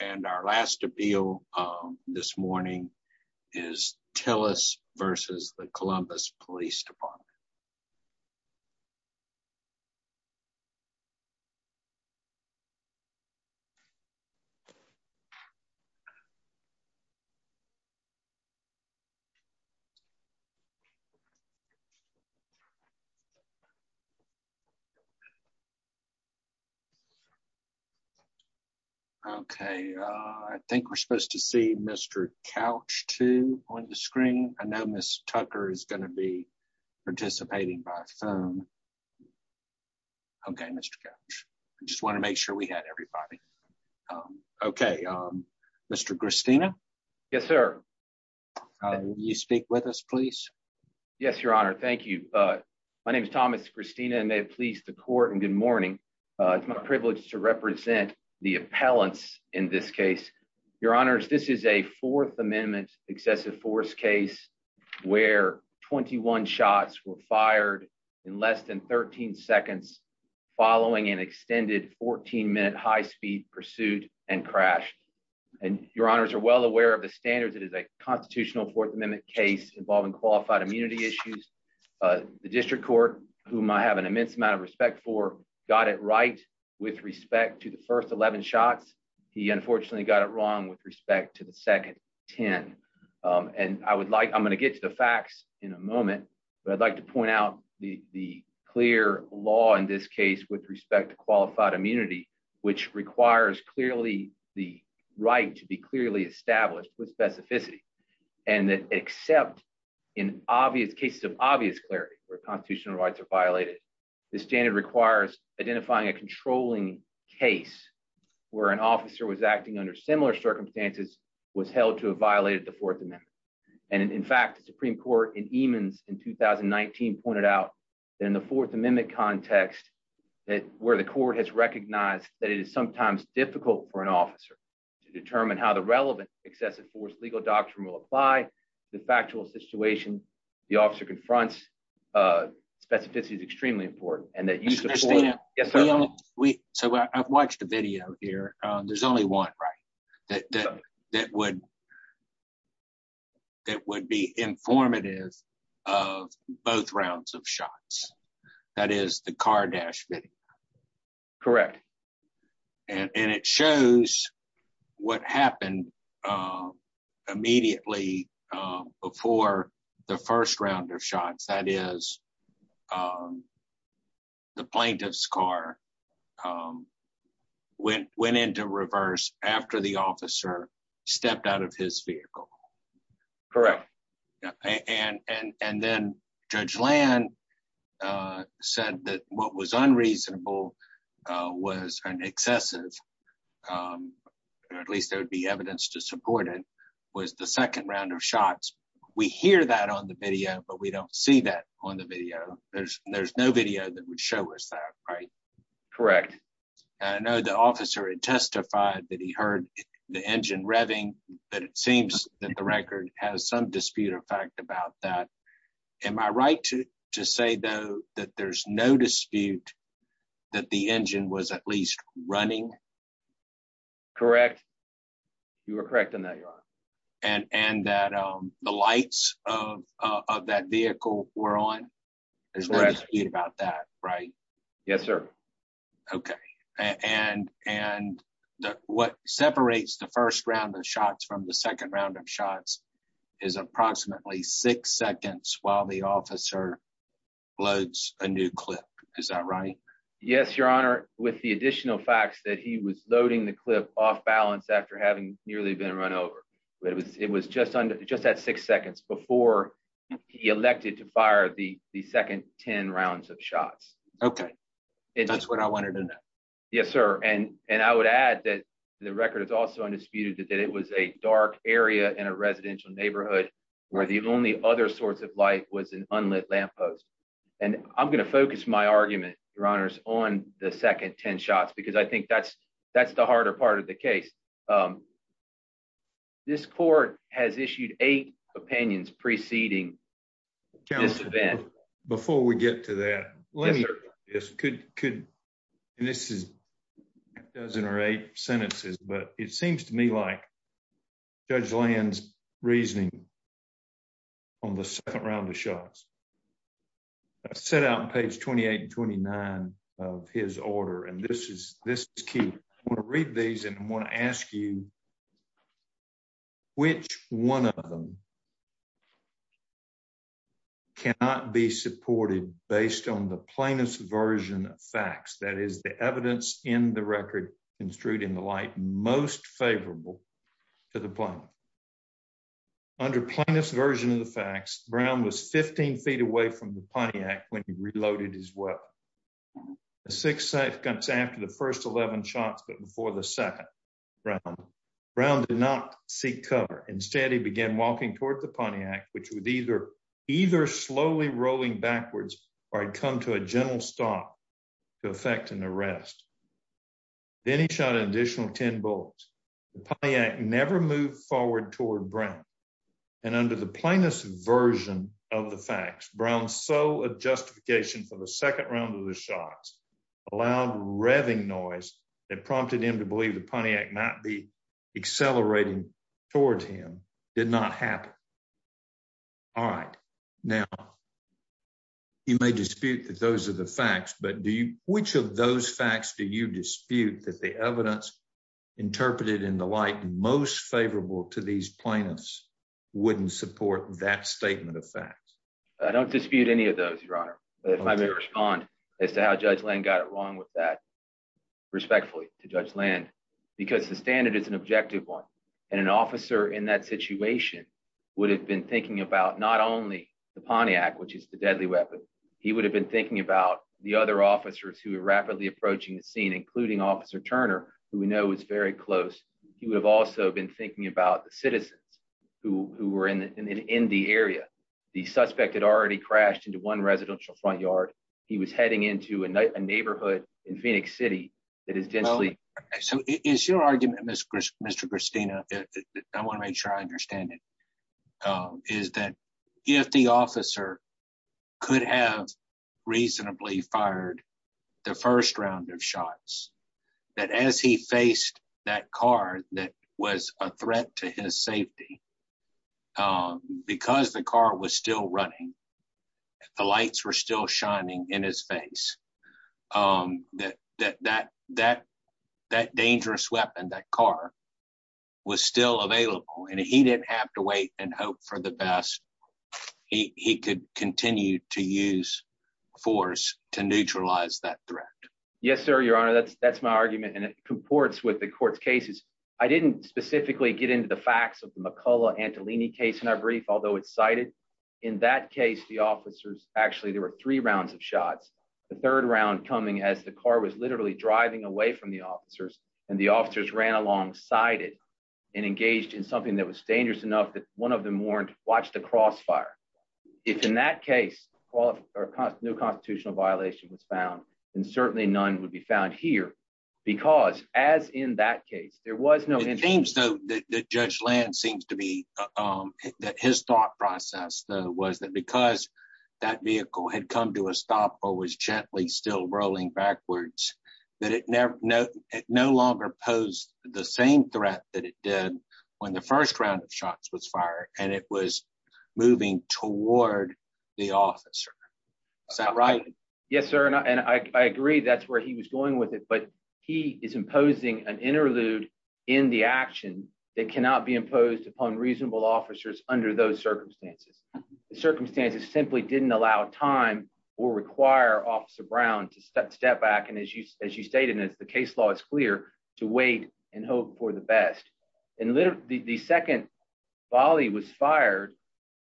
And our last appeal this morning is Tillis versus the Columbus Police Department. Okay, I think we're supposed to see Mr couch to on the screen. I know Miss Tucker is going to be participating by phone. Okay, Mr. Just want to make sure we had everybody. Okay. Mr Christina. Yes, sir. You speak with us please. Yes, Your Honor. Thank you. My name is Thomas Christina and they please the court and good morning. It's my privilege to represent the appellants. In this case, Your Honor, this is a Fourth Amendment excessive force case where 21 shots were fired in less than 13 seconds, following an extended 14 minute high speed pursuit and crash, and Your Honors are well aware of the standards that is a constitutional Fourth Amendment case involving qualified immunity issues. The district court, whom I have an immense amount of respect for got it right. With respect to the first 11 shots. He unfortunately got it wrong with respect to the second 10. And I would like I'm going to get to the facts in a moment, but I'd like to point out the clear law in this case with respect to qualified immunity, which requires clearly the right to be clearly established with specificity, and that except in obvious cases of obvious clarity, where constitutional rights are violated. The standard requires identifying a controlling case where an officer was acting under similar circumstances was held to have violated the Fourth Amendment. And in fact the Supreme Court and demons in 2019 pointed out that in the Fourth Amendment context that where the court has recognized that it is sometimes difficult for an officer to determine how the relevant excessive force legal doctrine will apply the factual situation. The officer confronts specificity is extremely important, and that you we so I've watched a video here. There's only one right that that would that would be informative of both rounds of shots. That is the car dash video. Correct. And it shows what happened. Immediately before the first round of shots that is the plaintiff's car went went into reverse after the officer stepped out of his vehicle. Correct. And, and, and then Judge land said that what was unreasonable was an excessive. At least there would be evidence to support it was the second round of shots. We hear that on the video but we don't see that on the video, there's, there's no video that would show us that right. Correct. I know the officer and testified that he heard the engine revving, but it seems that the record has some dispute effect about that. Am I right to just say though, that there's no dispute that the engine was at least running. Correct. You are correct in that. And, and that the lights of that vehicle, we're on. Right. Yes, sir. Okay. And, and what separates the first round of shots from the second round of shots is approximately six seconds while the officer loads, a new clip. Is that right. Yes, Your Honor, with the additional facts that he was loading the clip off balance after having nearly been run over. It was, it was just under just that six seconds before he elected to fire the second 10 rounds of shots. Okay. That's what I want to do that. Yes, sir. And, and I would add that the record is also undisputed that it was a dark area in a residential neighborhood, where the only other sorts of light was an unlit lamppost. And I'm going to focus my argument runners on the second 10 shots because I think that's, that's the harder part of the case. This court has issued a opinions preceding. Before we get to that. Yes, good. Good. And this is dozen or eight sentences but it seems to me like judge lands reasoning on the second round of shots set out page 28 and 29 of his order and this is this key read these and want to ask you, which one of them. Cannot be supported, based on the plainest version of facts that is the evidence in the record construed in the light most favorable to the plan. Under this version of the facts, Brown was 15 feet away from the Pontiac when he reloaded as well. Six seconds after the first 11 shots but before the second round did not seek cover instead he began walking toward the Pontiac, which would either either slowly rolling backwards, or I'd come to a general stop to effect an arrest. Then he shot an additional 10 bullets. The Pontiac never moved forward toward Brown. And under the plainest version of the facts Brown so a justification for the second round of the shots allowed revving noise that prompted him to believe the Pontiac might be accelerating towards him, did not happen. All right. Now, you may dispute that those are the facts but do you, which of those facts do you dispute that the evidence interpreted in the light most favorable to these planets wouldn't support that statement of fact, I don't dispute any of those respond as to how judge land got it wrong with that respectfully to judge land, because the standard is an objective one, and an officer in that situation would have been thinking about not only the Pontiac which is the deadly weapon, he would have been thinking about the other officers who are rapidly approaching the scene including officer Turner, who we know is very close. He would have also been thinking about the citizens who were in the area. The suspect had already crashed into one residential front yard. He was heading into a neighborhood in Phoenix City. It is gently. So, is your argument Mr. Mr Christina. I want to make sure I understand it is that if the officer. Could have reasonably fired the first round of shots that as he faced that car that was a threat to his safety. Because the car was still running. The lights were still shining in his face that that that that dangerous weapon that car was still available and he didn't have to wait and hope for the best. He could continue to use force to neutralize that threat. Yes, sir. Your Honor, that's, that's my argument and it comports with the court's cases. I didn't specifically get into the facts of the McCullough Antolini case in our brief, although it's cited in that case the officers, actually there were three rounds of shots. The third round coming as the car was literally driving away from the officers and the officers ran alongside it and engaged in something that was dangerous enough that one of them warned, watch the crossfire. If in that case, or cost new constitutional violation was found, and certainly none would be found here, because, as in that case there was no teams though that judge land seems to be that his thought process was that because that vehicle had come to a stop or was gently still rolling backwards, that it never know it no longer pose the same threat that it did when the first round of shots was fired, and it was moving toward the officer. Right. Yes, sir. And I agree that's where he was going with it but he is imposing an interlude in the action that cannot be imposed upon reasonable officers under those circumstances. Circumstances simply didn't allow time or require officer Brown to step back and as you as you stated as the case law is clear to wait and hope for the best. And literally, the second Bali was fired,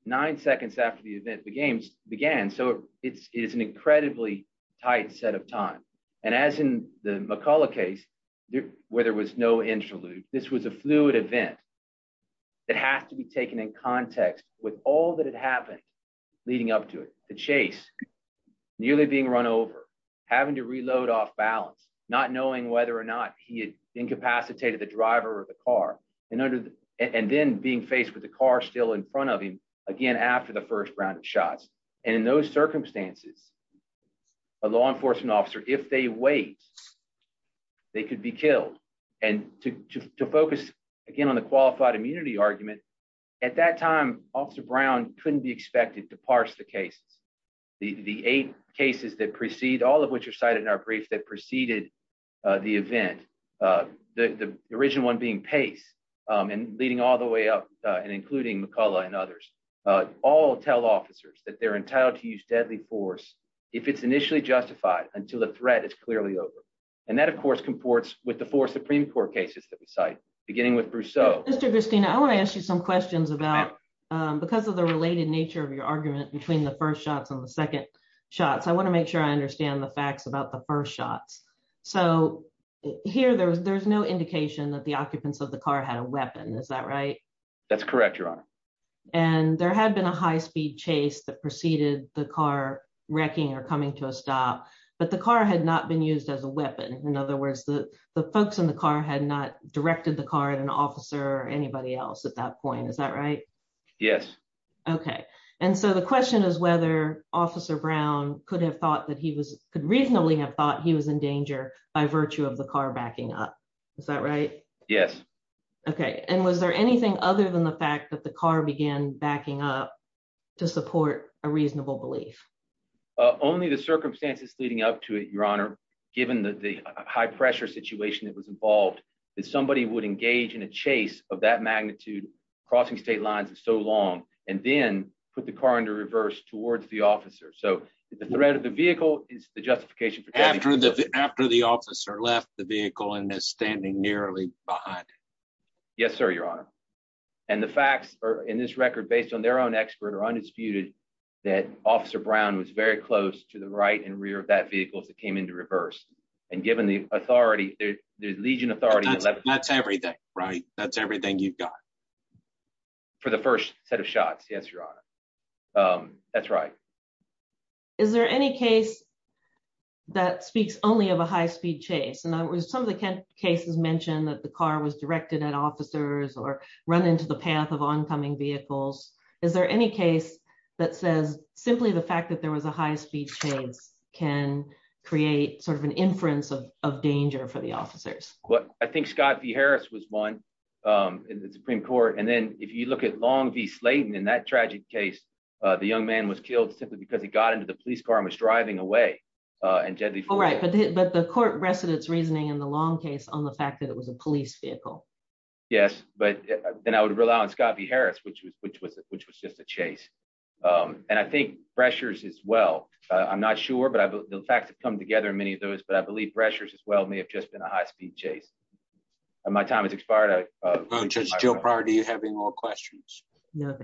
nine seconds after the event the games began so it's an incredibly tight set of time. And as in the McCullough case where there was no interlude, this was a fluid event that has to be taken in context with all that leading up to it, the chase, nearly being run over, having to reload off balance, not knowing whether or not he had incapacitated the driver of the car, and under, and then being faced with the car still in front of him again after the first round of shots, and in those circumstances, a law enforcement officer if they wait. They could be killed, and to focus again on the qualified immunity argument. At that time, officer Brown couldn't be expected to parse the cases, the eight cases that precede all of which are cited in our brief that preceded the event. The original one being pace and leading all the way up and including McCullough and others all tell officers that they're entitled to use deadly force. If it's initially justified until the threat is clearly over. And that of course comports with the four Supreme Court cases that we cite, beginning with Bruce so Mr Christina I want to ask you some questions about because of the related nature of your argument between the first shots on the second shots I want to make sure I understand the facts about the first shots. So, here there was there's no indication that the occupants of the car had a weapon. Is that right, that's correct your honor. And there had been a high speed chase that preceded the car wrecking or coming to a stop, but the car had not been used as a weapon. In other words, the, the folks in the car had not directed the car and an officer or anybody else at that point. Is that right. Yes. Okay. And so the question is whether officer Brown could have thought that he was could reasonably have thought he was in danger by virtue of the car backing up. Is that right. Yes. Okay. And was there anything other than the fact that the car began backing up to support a reasonable belief, only the circumstances leading up to it, Your Honor, given the high pressure situation that was involved is somebody would engage in a chase of that magnitude crossing state lines and so long, and then put the car into reverse towards the officer so the threat of the vehicle is the justification for after the, after the officer left the vehicle and is standing nearly behind. Yes, sir, Your Honor, and the facts are in this record based on their own expert or undisputed that officer Brown was very close to the right and rear that vehicles that came into reverse, and given the authority, the Legion authority. That's everything right that's everything you've got for the first set of shots. Yes, Your Honor. That's right. Is there any case that speaks only have a high speed chase and I was some of the cases mentioned that the car was directed at officers or run into the path of oncoming vehicles. Is there any case that says, simply the fact that there was a high speed chains can create sort of an inference of danger for the officers, what I think Scott v Harris was one in the Supreme Court and then if you look at long be Slayton in that tragic case, the young man was killed simply because he got into the police car was driving away and gently. All right, but the court residents reasoning in the long case on the fact that it was a police vehicle. Yes, but then I would rely on Scott v Harris which was which was which was just a chase. And I think pressures as well. I'm not sure but I've come together many of those but I believe pressures as well may have just been a high speed chase. My time is expired. Joe party having more questions. No.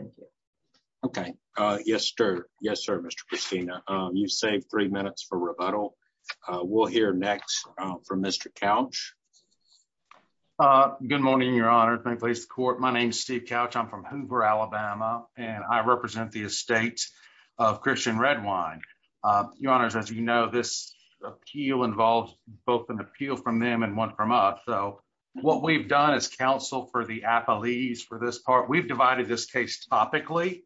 Okay. Yes, sir. Yes, sir. Mr. Christina, you save three minutes for rebuttal. We'll hear next from Mr couch. Good morning, Your Honor, thank please court my name is Steve couch I'm from Hoover, Alabama, and I represent the estate of Christian red wine. Your Honors as you know this appeal involves both an appeal from them and one from us so what we've done as counsel for the Apple ease for this part we've divided this case topically,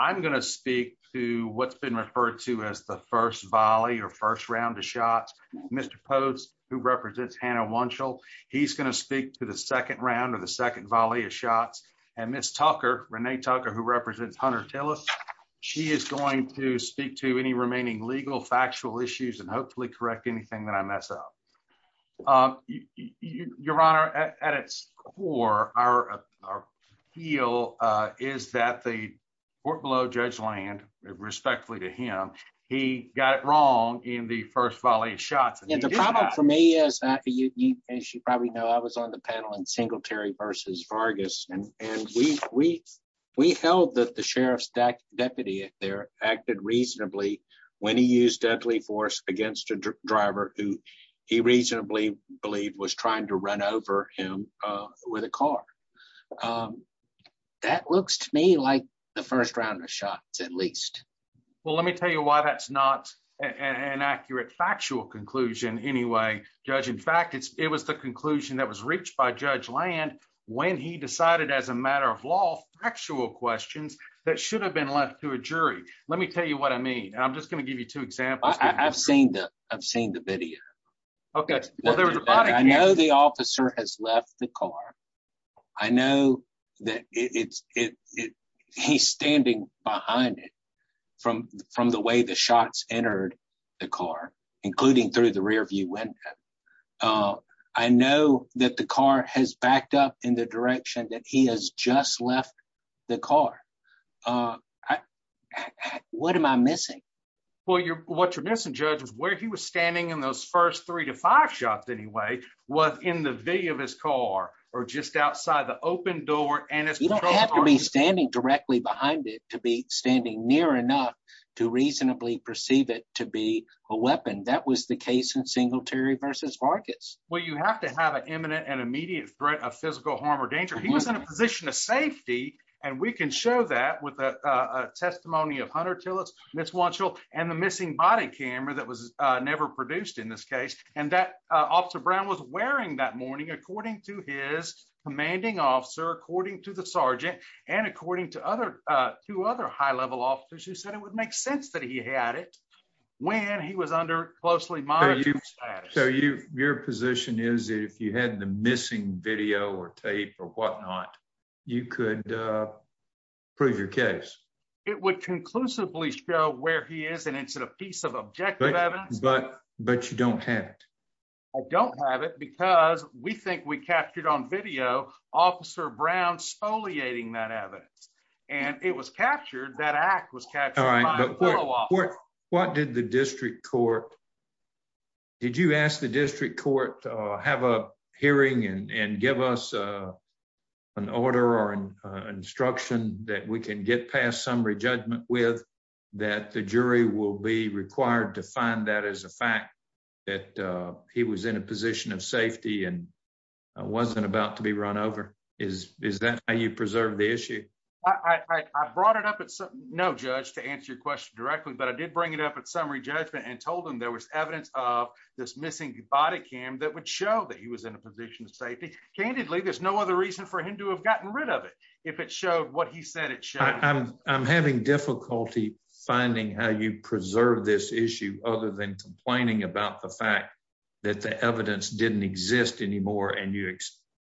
I'm going to speak to what's been referred to as the first volley or first round of shots, Mr pose, who represents Hannah one show, he's going to speak to the second round of the second volley of shots, and Miss Tucker Renee Tucker who represents hunter tell us, she is going to speak to any remaining legal factual issues and hopefully correct anything that I mess up. Your Honor, at its core, our, our heel is that the port below judge land respectfully to him. He got it wrong in the first volley shots and the problem for me is that you probably know I was on the panel and single Terry versus Vargas, and, and we, we held that the sheriff's deck deputy there acted reasonably when he used deadly force against a driver who he reasonably believed was trying to run over him with a car that looks to me like the first round of shots at least. Well let me tell you why that's not an accurate factual conclusion anyway, judge in fact it's, it was the conclusion that was reached by judge land. When he decided as a matter of law, actual questions that should have been left to a jury, let me tell you what I mean I'm just going to give you two examples I've seen the I've seen the video. Okay, I know the officer has left the car. I know that it's it. He's standing behind it from from the way the shots entered the car, including through the rear view when I know that the car has backed up in the direction that he has just left the car. What am I missing. Well you're what you're missing judges where he was standing in those first three to five shots anyway, was in the video of his car, or just outside the open door, and it's gonna have to be standing directly behind it to be standing near enough to reasonably perceive it to be a weapon that was the case in Singletary versus markets, where you have to have an imminent and immediate threat of physical harm or danger he was in a position of safety, and we can show that with a testimony of hunter till and the missing body camera that was never produced in this case, and that officer Brown was wearing that morning according to his commanding officer according to the sergeant, and according to other to other high level officers who said it would make sense that he had it. When he was under closely monitor you. So you, your position is if you had the missing video or tape or whatnot. You could prove your case, it would conclusively show where he is and it's a piece of objective evidence, but, but you don't have. I don't have it because we think we captured on video officer Brown spoliating that evidence, and it was captured that act was captured. What did the district court. Did you ask the district court, have a hearing and give us an order or an instruction that we can get past summary judgment with that the jury will be required to find that as a fact that he was in a position of safety and wasn't about to be run over is, is that how you preserve the issue. I brought it up at some no judge to answer your question directly but I did bring it up at summary judgment and told him there was evidence of this missing body cam that would show that he was in a position of safety. Candidly, there's no other reason for him to have gotten rid of it. If it showed what he said it. I'm having difficulty finding how you preserve this issue, other than complaining about the fact that the evidence didn't exist anymore and you,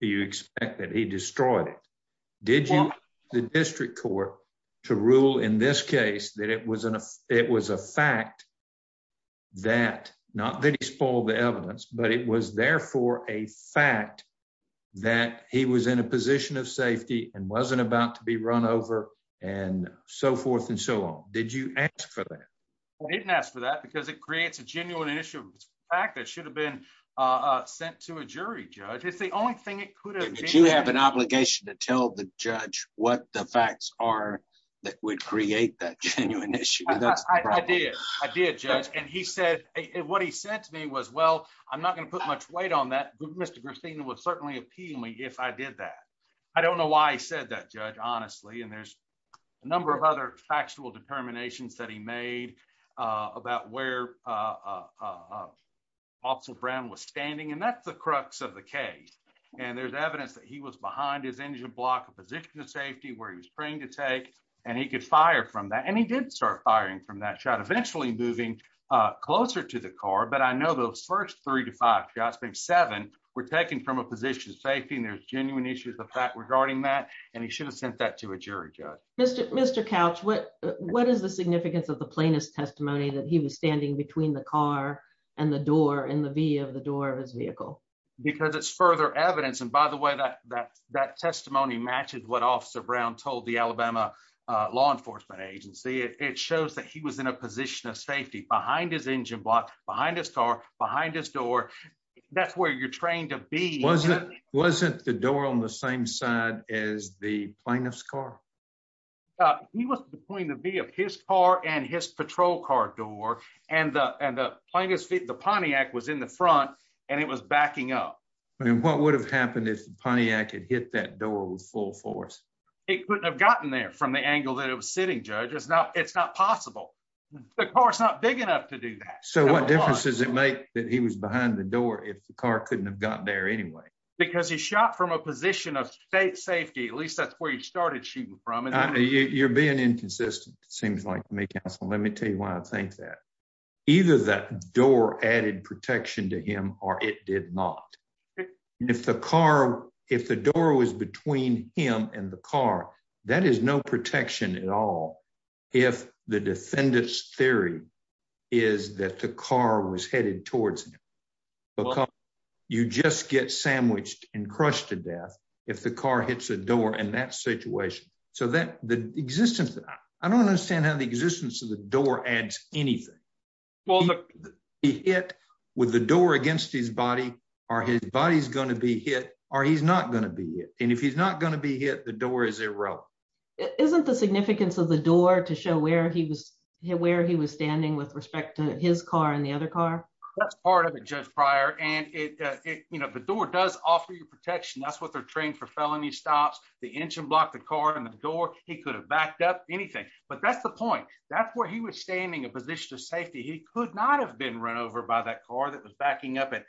you expect that he destroyed it. The district court to rule in this case that it was an, it was a fact that not that he spoiled the evidence, but it was therefore a fact that he was in a position of safety and wasn't about to be run over, and so forth and so on. Did you ask for that. I didn't ask for that because it creates a genuine initial fact that should have been sent to a jury judge is the only thing it could have you have an obligation to tell the judge what the facts are that would create that genuine issue. I did, I did judge and he said it what he said to me was well, I'm not going to put much weight on that Mr Christina was certainly appealing me if I did that. I don't know why I said that judge honestly and there's a number of other factual determinations that he made about where also brown was standing and that's the crux of the case. And there's evidence that he was behind his engine block position of safety where he was praying to take, and he could fire from that and he didn't start firing from that shot eventually moving closer to the car but I know those first three to five jobs being seven were taken from a position of safety and there's genuine issues the fact regarding that, and he should have sent that to a jury judge, Mr. Mr couch what, what is the significance of the plaintiff's testimony that he was standing between the car and the door and the via the door of his vehicle, because it's further evidence and by the way that that that testimony matches what officer brown told the Alabama law enforcement agency, it shows that he was in a position of safety behind his engine block behind his car behind his door. That's where you're trained to be wasn't wasn't the door on the same side as the plaintiff's car. He was the point of view of his car and his patrol car door, and the end up playing his feet the Pontiac was in the front, and it was backing up. And what would have happened if Pontiac had hit that door was full force. It could have gotten there from the angle that it was sitting judges now it's not possible. The car is not big enough to do that. So what difference does it make that he was behind the door if the car couldn't have gotten there anyway, because he shot from a position of state safety at least that's where you started shooting from and you're being inconsistent, seems like me Council let me tell you why I think that either that door added protection to him, or it did not. If the car. If the door was between him and the car. That is no protection at all. If the defendants theory is that the car was headed towards. You just get sandwiched and crushed to death. If the car hits a door and that situation, so that the existence. I don't understand how the existence of the door adds anything. Well, the hit with the door against his body, or his body is going to be hit, or he's not going to be it, and if he's not going to be hit the door is a row. Isn't the significance of the door to show where he was where he was standing with respect to his car and the other car. That's part of a judge prior and it, you know, the door does offer you protection that's what they're trained for felony stops the engine block the car and the door, he could have backed up anything, but that's the point. That's where he was standing a position of safety he could not have been run over by that car that was backing up at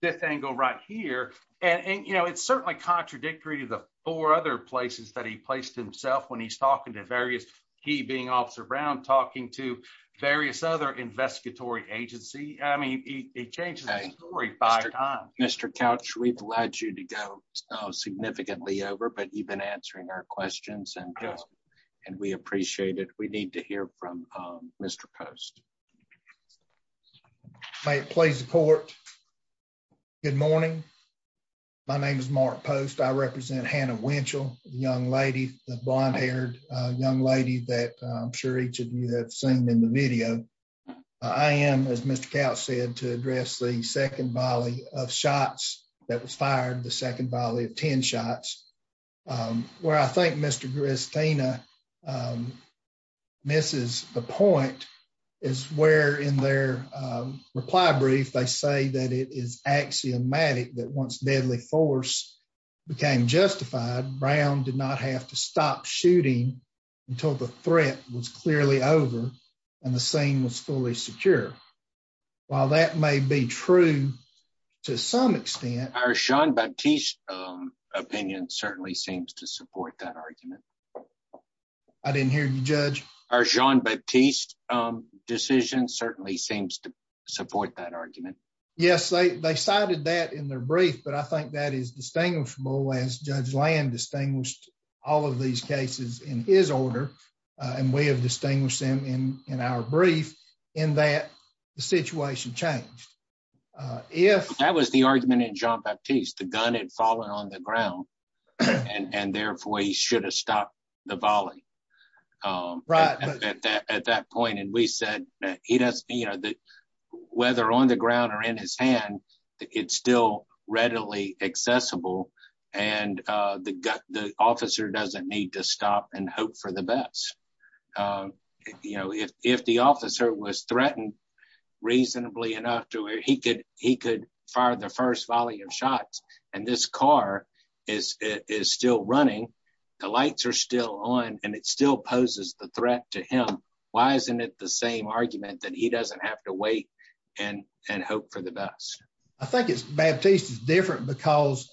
this angle right here. And, you know, it's certainly contradictory to the four other places that he placed himself when he's talking to various, he being officer brown talking to various other investigatory agency, I mean, it changes. Mr couch we've led you to go significantly over but you've been answering our questions and, and we appreciate it, we need to hear from Mr post. Please support. Good morning. My name is Mark post I represent Hannah Winchell, young lady, the blonde haired young lady that I'm sure each of you have seen in the video. I am as Mr couch said to address the second volley of shots that was fired the second volley of 10 shots, where I think Mr Christina. Mrs. The point is where in their reply brief they say that it is axiomatic that once deadly force became justified brown did not have to stop shooting until the threat was clearly over, and the same was fully secure. While that may be true. To some extent, our Sean but teach opinion certainly seems to support that argument. I didn't hear you judge our john but teach decision certainly seems to support that argument. Yes, they cited that in their brief but I think that is distinguishable as judge land distinguished all of these cases in his order. And we have distinguished them in, in our brief in that situation changed. If that was the argument in john but teach the gun and fallen on the ground. And therefore he should have stopped the volley. Right. At that point and we said that he doesn't you know that whether on the ground or in his hand. It's still readily accessible, and the gut the officer doesn't need to stop and hope for the best. You know if the officer was threatened reasonably enough to where he could, he could fire the first volume shots, and this car is still running the lights are still on, and it still poses the threat to him. Why isn't it the same argument that he doesn't have to wait and and hope for the best. I think it's bad taste is different because,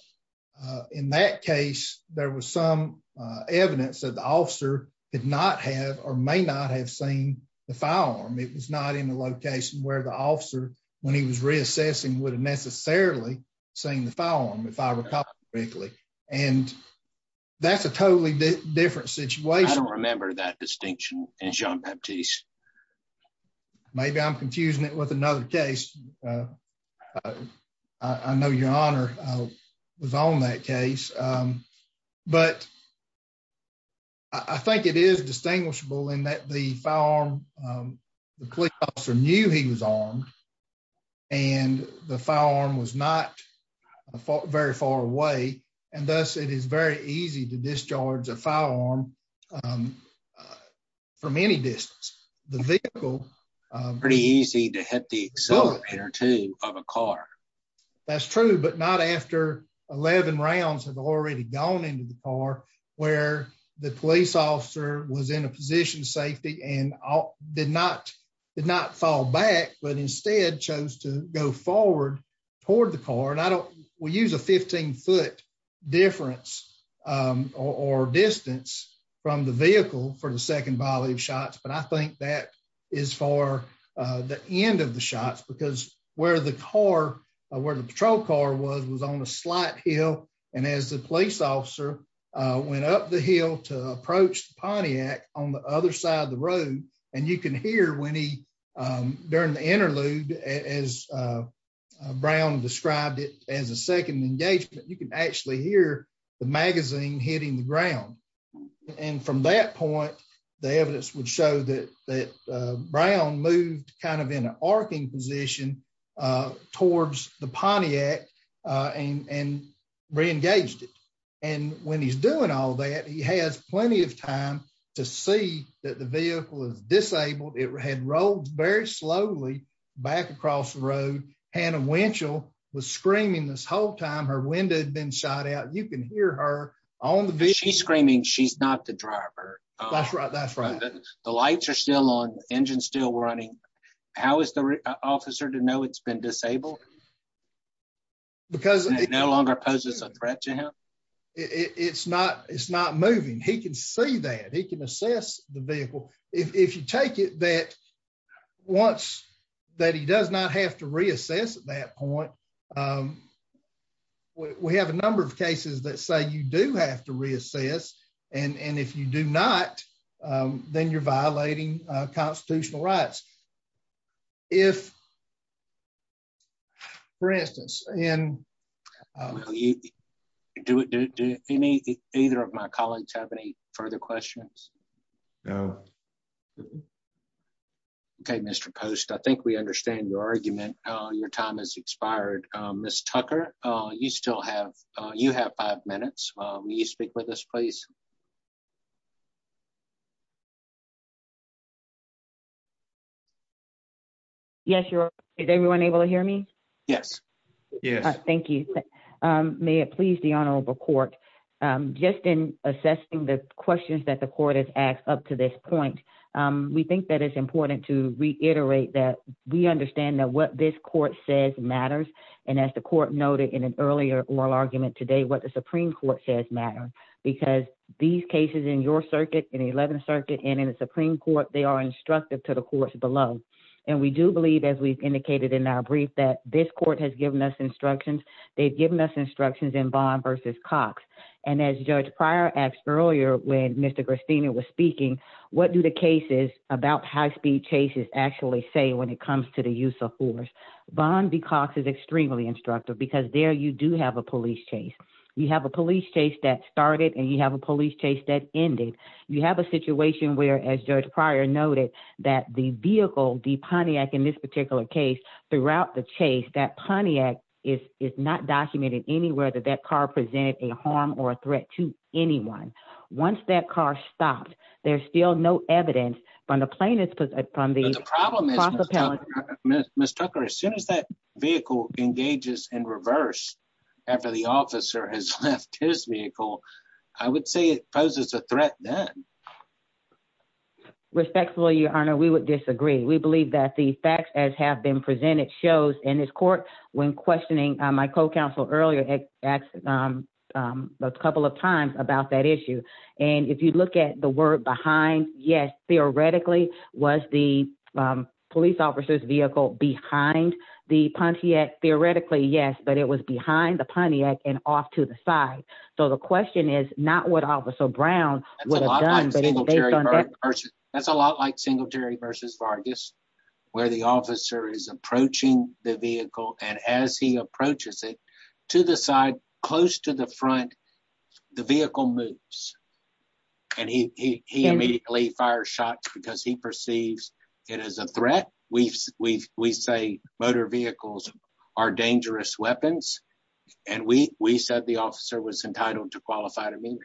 in that case, there was some evidence that the officer did not have or may not have seen the file on it was not in Maybe I'm confusing it with another case. I know your honor was on that case. But I think it is distinguishable in that the farm. The police officer knew he was on. And the farm was not very far away, and thus it is very easy to discharge a firearm. From any distance, the vehicle. Pretty easy to hit the accelerator to have a car. That's true, but not after 11 rounds have already gone into the car where the police officer was in a position safety and did not did not fall back but instead chose to go forward toward the car and I don't, we use a 15 foot difference or distance from the vehicle for the second volume shots but I think that is for the end of the shots because where the car where the patrol car was was on a slight hill, and as the police officer went up the hill to approach the Pontiac, on the other side of the road, and you can hear when he during the interlude as brown described it as a second engagement, you can actually hear the magazine hitting the ground. And from that point, the evidence would show that that brown moved kind of in an arcing position towards the Pontiac and reengaged it. And when he's doing all that he has plenty of time to see that the vehicle is disabled it had rolled very slowly back across the road, Hannah Winchell was screaming this whole time her window been shot out you can hear her on the beach he's screaming she's not the driver. That's right, that's right. The lights are still on engine still running. How is the officer to know it's been disabled. Because no longer poses a threat to him. It's not, it's not moving he can say that he can assess the vehicle. If you take it that once that he does not have to reassess that point. We have a number of cases that say you do have to reassess and and if you do not, then you're violating constitutional rights. If for instance, and do it. Do any, either of my colleagues have any further questions. No. Okay, Mr post I think we understand your argument, your time has expired. Miss Tucker, you still have you have five minutes. Will you speak with us please. Yes. Yes, you're able to hear me. Yes. Yes. Thank you. May it please the honorable court. Just in assessing the questions that the court has asked up to this point. We think that it's important to reiterate that we understand that what this court says matters. And as the court noted in an earlier oral argument today what the Supreme Court says matter, because these cases in your circuit in 11th Circuit and in the Supreme Court, they are instructive to the courts below. And we do believe as we've indicated in our brief that this court has given us instructions, they've given us instructions in bond versus Cox, and as judge prior asked earlier when Mr Christina was speaking, what do the cases about high speed chases actually say when it comes to the use of force bond because is extremely instructive because there you do have a police chase. You have a police chase that started and you have a police chase that ended, you have a situation where as judge prior noted that the vehicle the Pontiac in this particular case throughout the chase that Pontiac is is not documented anywhere that that car presented a harm or a threat to anyone. Once that car stopped, there's still no evidence from the plane is from the problem is, Mr Tucker as soon as that vehicle engages in reverse. After the officer has left his vehicle. I would say it poses a threat that respectfully your honor we would disagree we believe that the facts as have been presented shows in this court. When questioning my co counsel earlier at a couple of times about that issue. And if you look at the word behind. Yes, theoretically, was the police officers vehicle behind the Pontiac theoretically yes but it was behind the Pontiac and off to the side. So the question is not what officer Brown. That's a lot like single Jerry versus Vargas, where the officer is approaching the vehicle and as he approaches it to the side, close to the front. The vehicle moves, and he immediately fire shots because he perceives it as a threat. We've, we say motor vehicles are dangerous weapons, and we, we said the officer was entitled to qualify to me.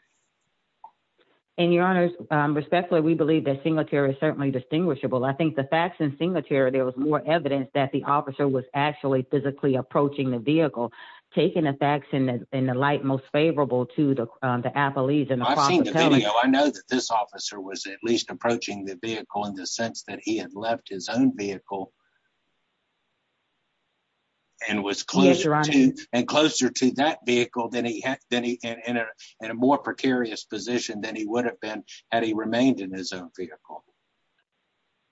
And your honors respectfully we believe that single chair is certainly distinguishable I think the facts and single chair there was more evidence that the officer was actually physically approaching the vehicle, taking the facts in the light most favorable to the appellees and I know that this officer was at least approaching the vehicle in the sense that he had left his own vehicle. And was closer and closer to that vehicle than he had been in a more precarious position than he would have been had he remained in his own vehicle.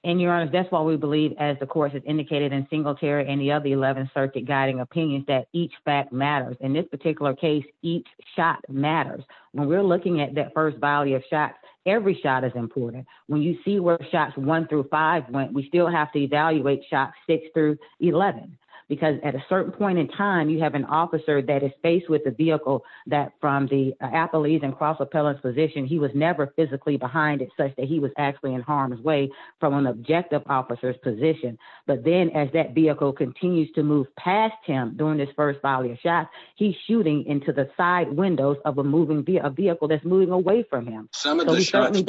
And your honor, that's why we believe as the course is indicated in single chair and the other 11 circuit guiding opinions that each fact matters in this particular case, each shot matters. When we're looking at that first value of shots, every shot is important. When you see where shots one through five when we still have to evaluate shots six through 11, because at a certain point in time you have an officer that is faced with the vehicle that from the appellees and cross appellants position he was never physically behind it says that he was actually in harm's way from an objective officers position. But then as that vehicle continues to move past him doing this first value shot he shooting into the side windows of a moving via a vehicle that's moving away from him. Some of the shots.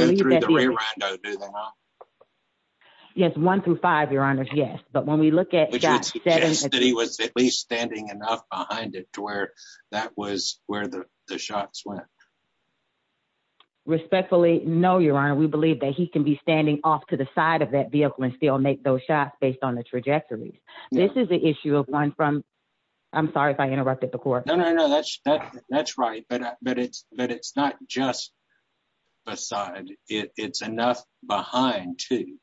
Yes, one through five your honor's Yes, but when we look at that he was at least standing enough behind it to where that was where the shots went. Respectfully know your honor we believe that he can be standing off to the side of that vehicle and still make those shots based on the trajectory. This is the issue of one from. I'm sorry if I interrupted the court. That's right, but, but it's, but it's not just beside it's enough behind to.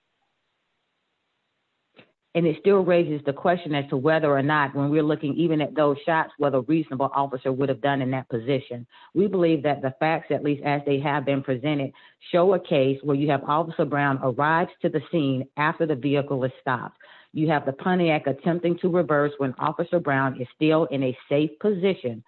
And it still raises the question as to whether or not when we're looking even at those shots whether reasonable officer would have done in that position. We believe that the facts at least as they have been presented, show a case where you have also brown arrives to the scene, after the vehicle was stopped. You have the Pontiac attempting to reverse when Officer Brown is still in a safe position.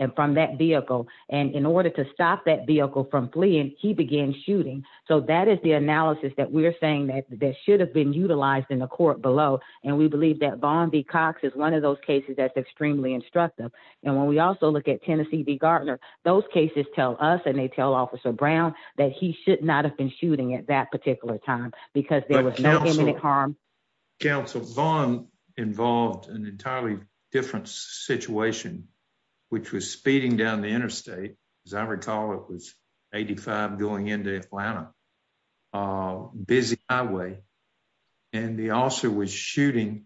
And from that vehicle, and in order to stop that vehicle from fleeing, he began shooting. So that is the analysis that we're saying that that should have been utilized in the court below, and we believe that bond the Cox is one of those cases that's extremely instructive. And when we also look at Tennessee the Gardner, those cases tell us and they tell Officer Brown that he should not have been shooting at that particular time, because there was no harm. Council bond involved an entirely different situation, which was speeding down the interstate. As I recall, it was 85 going into Atlanta busy highway. And the officer was shooting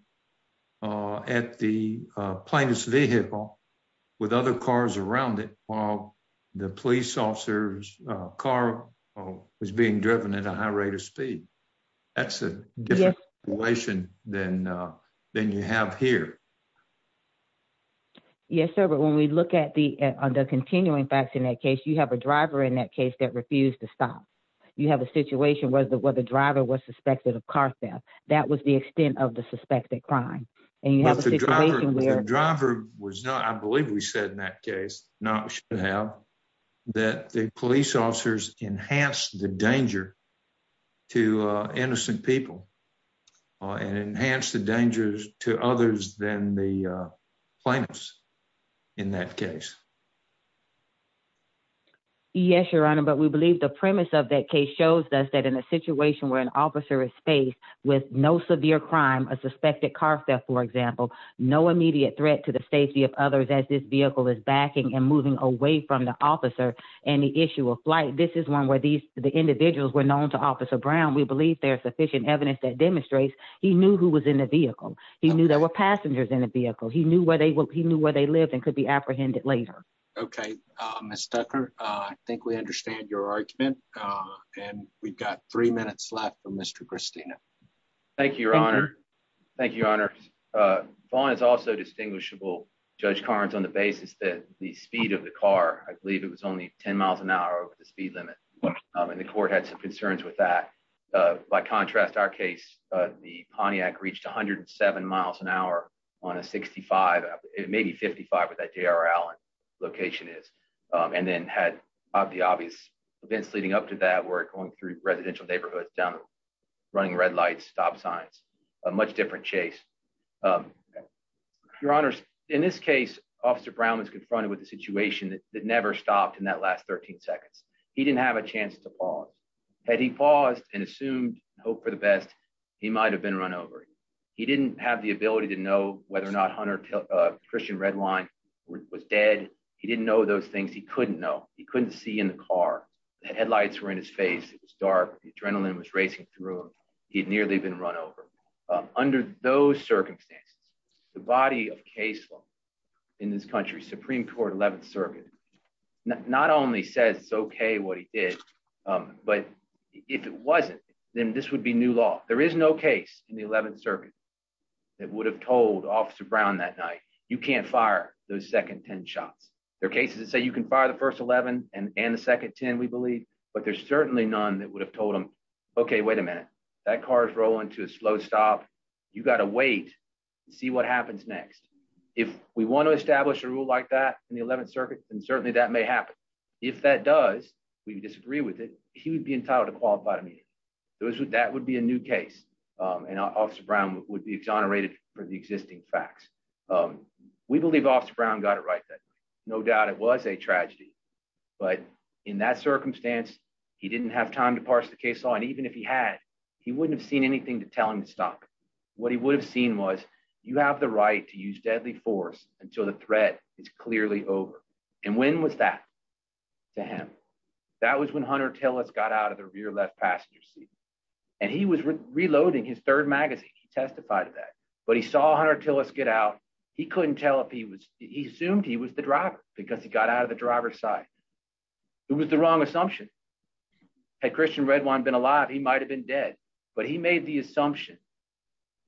at the plaintiff's vehicle with other cars around it, while the police officers car was being driven at a high rate of speed. That's a different question, then, then you have here. Yes, sir. But when we look at the on the continuing facts in that case, you have a driver in that case that refused to stop, you have a situation where the where the driver was suspected of car theft, that was the extent of the suspected crime. And you have a driver was not I believe we said in that case, not to have that the police officers enhance the danger to innocent people and enhance the dangers to others than the plaintiffs. In that case. Yes, Your Honor, but we believe the premise of that case shows us that in a situation where an officer is faced with no severe crime a suspected car theft, for example, no immediate threat to the safety of others as this vehicle is backing and moving away from the vehicle he knew where they will he knew where they lived and could be apprehended later. Okay, Mr. I think we understand your argument. And we've got three minutes left for Mr Christina. Thank you, Your Honor. Thank you, Your Honor. Thank you, Your Honor. Vaughn is also distinguishable. Judge Carnes on the basis that the speed of the car, I believe it was only 10 miles an hour over the speed limit. And the court had some concerns with that. By contrast, our case, the Pontiac reached 107 miles an hour on a 65, maybe 55 with that JRL location is, and then had the obvious events leading up to that work going through residential neighborhoods down running red lights stop signs. A much different chase. Your Honor. In this case, Officer Brown was confronted with a situation that never stopped in that last 13 seconds. He didn't have a chance to pause. He paused and assumed hope for the best. He might have been run over. He didn't have the ability to know whether or not hunter Christian red line was dead. He didn't know those things he couldn't know he couldn't see in the car headlights were in his face, it was dark adrenaline was racing through. He'd nearly been run over. Under those circumstances, the body of case law in this country Supreme Court 11th Circuit. Not only says it's okay what he did. But if it wasn't, then this would be new law, there is no case in the 11th circuit that would have told Officer Brown that night, you can't fire those second 10 shots. There are cases that say you can fire the first 11, and the second 10 we believe, but there's certainly none that would have told them. Okay, wait a minute, that car is rolling to a slow stop. You got to wait and see what happens next. If we want to establish a rule like that in the 11th circuit, and certainly that may happen. If that does, we disagree with it, he would be entitled to qualify to me. Those would that would be a new case, and Officer Brown would be exonerated for the existing facts. We believe Officer Brown got it right that no doubt it was a tragedy. But in that circumstance, he didn't have time to parse the case on even if he had, he wouldn't have seen anything to tell him to stop. What he would have seen was, you have the right to use deadly force until the threat is clearly over. And when was that to him. That was when hunter tell us got out of the rear left passenger seat. And he was reloading his third magazine, he testified to that, but he saw hunter tell us get out. He couldn't tell if he was, he assumed he was the driver, because he got out of the driver's side. It was the wrong assumption. Christian red wine been alive, he might have been dead, but he made the assumption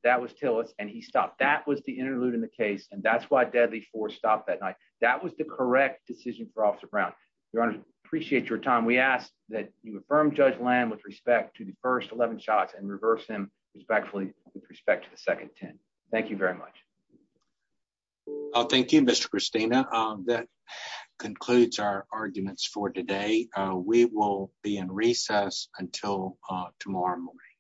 that was till us and he stopped that was the interlude in the case and that's why deadly for stop that night. That was the correct decision for Officer Brown, your honor, appreciate your time we asked that you affirm judge land with respect to the first 11 shots and reverse him respectfully, with respect to the second 10. Thank you very much. Thank you, Mr. Christina. That concludes our arguments for today. We will be in recess until tomorrow morning.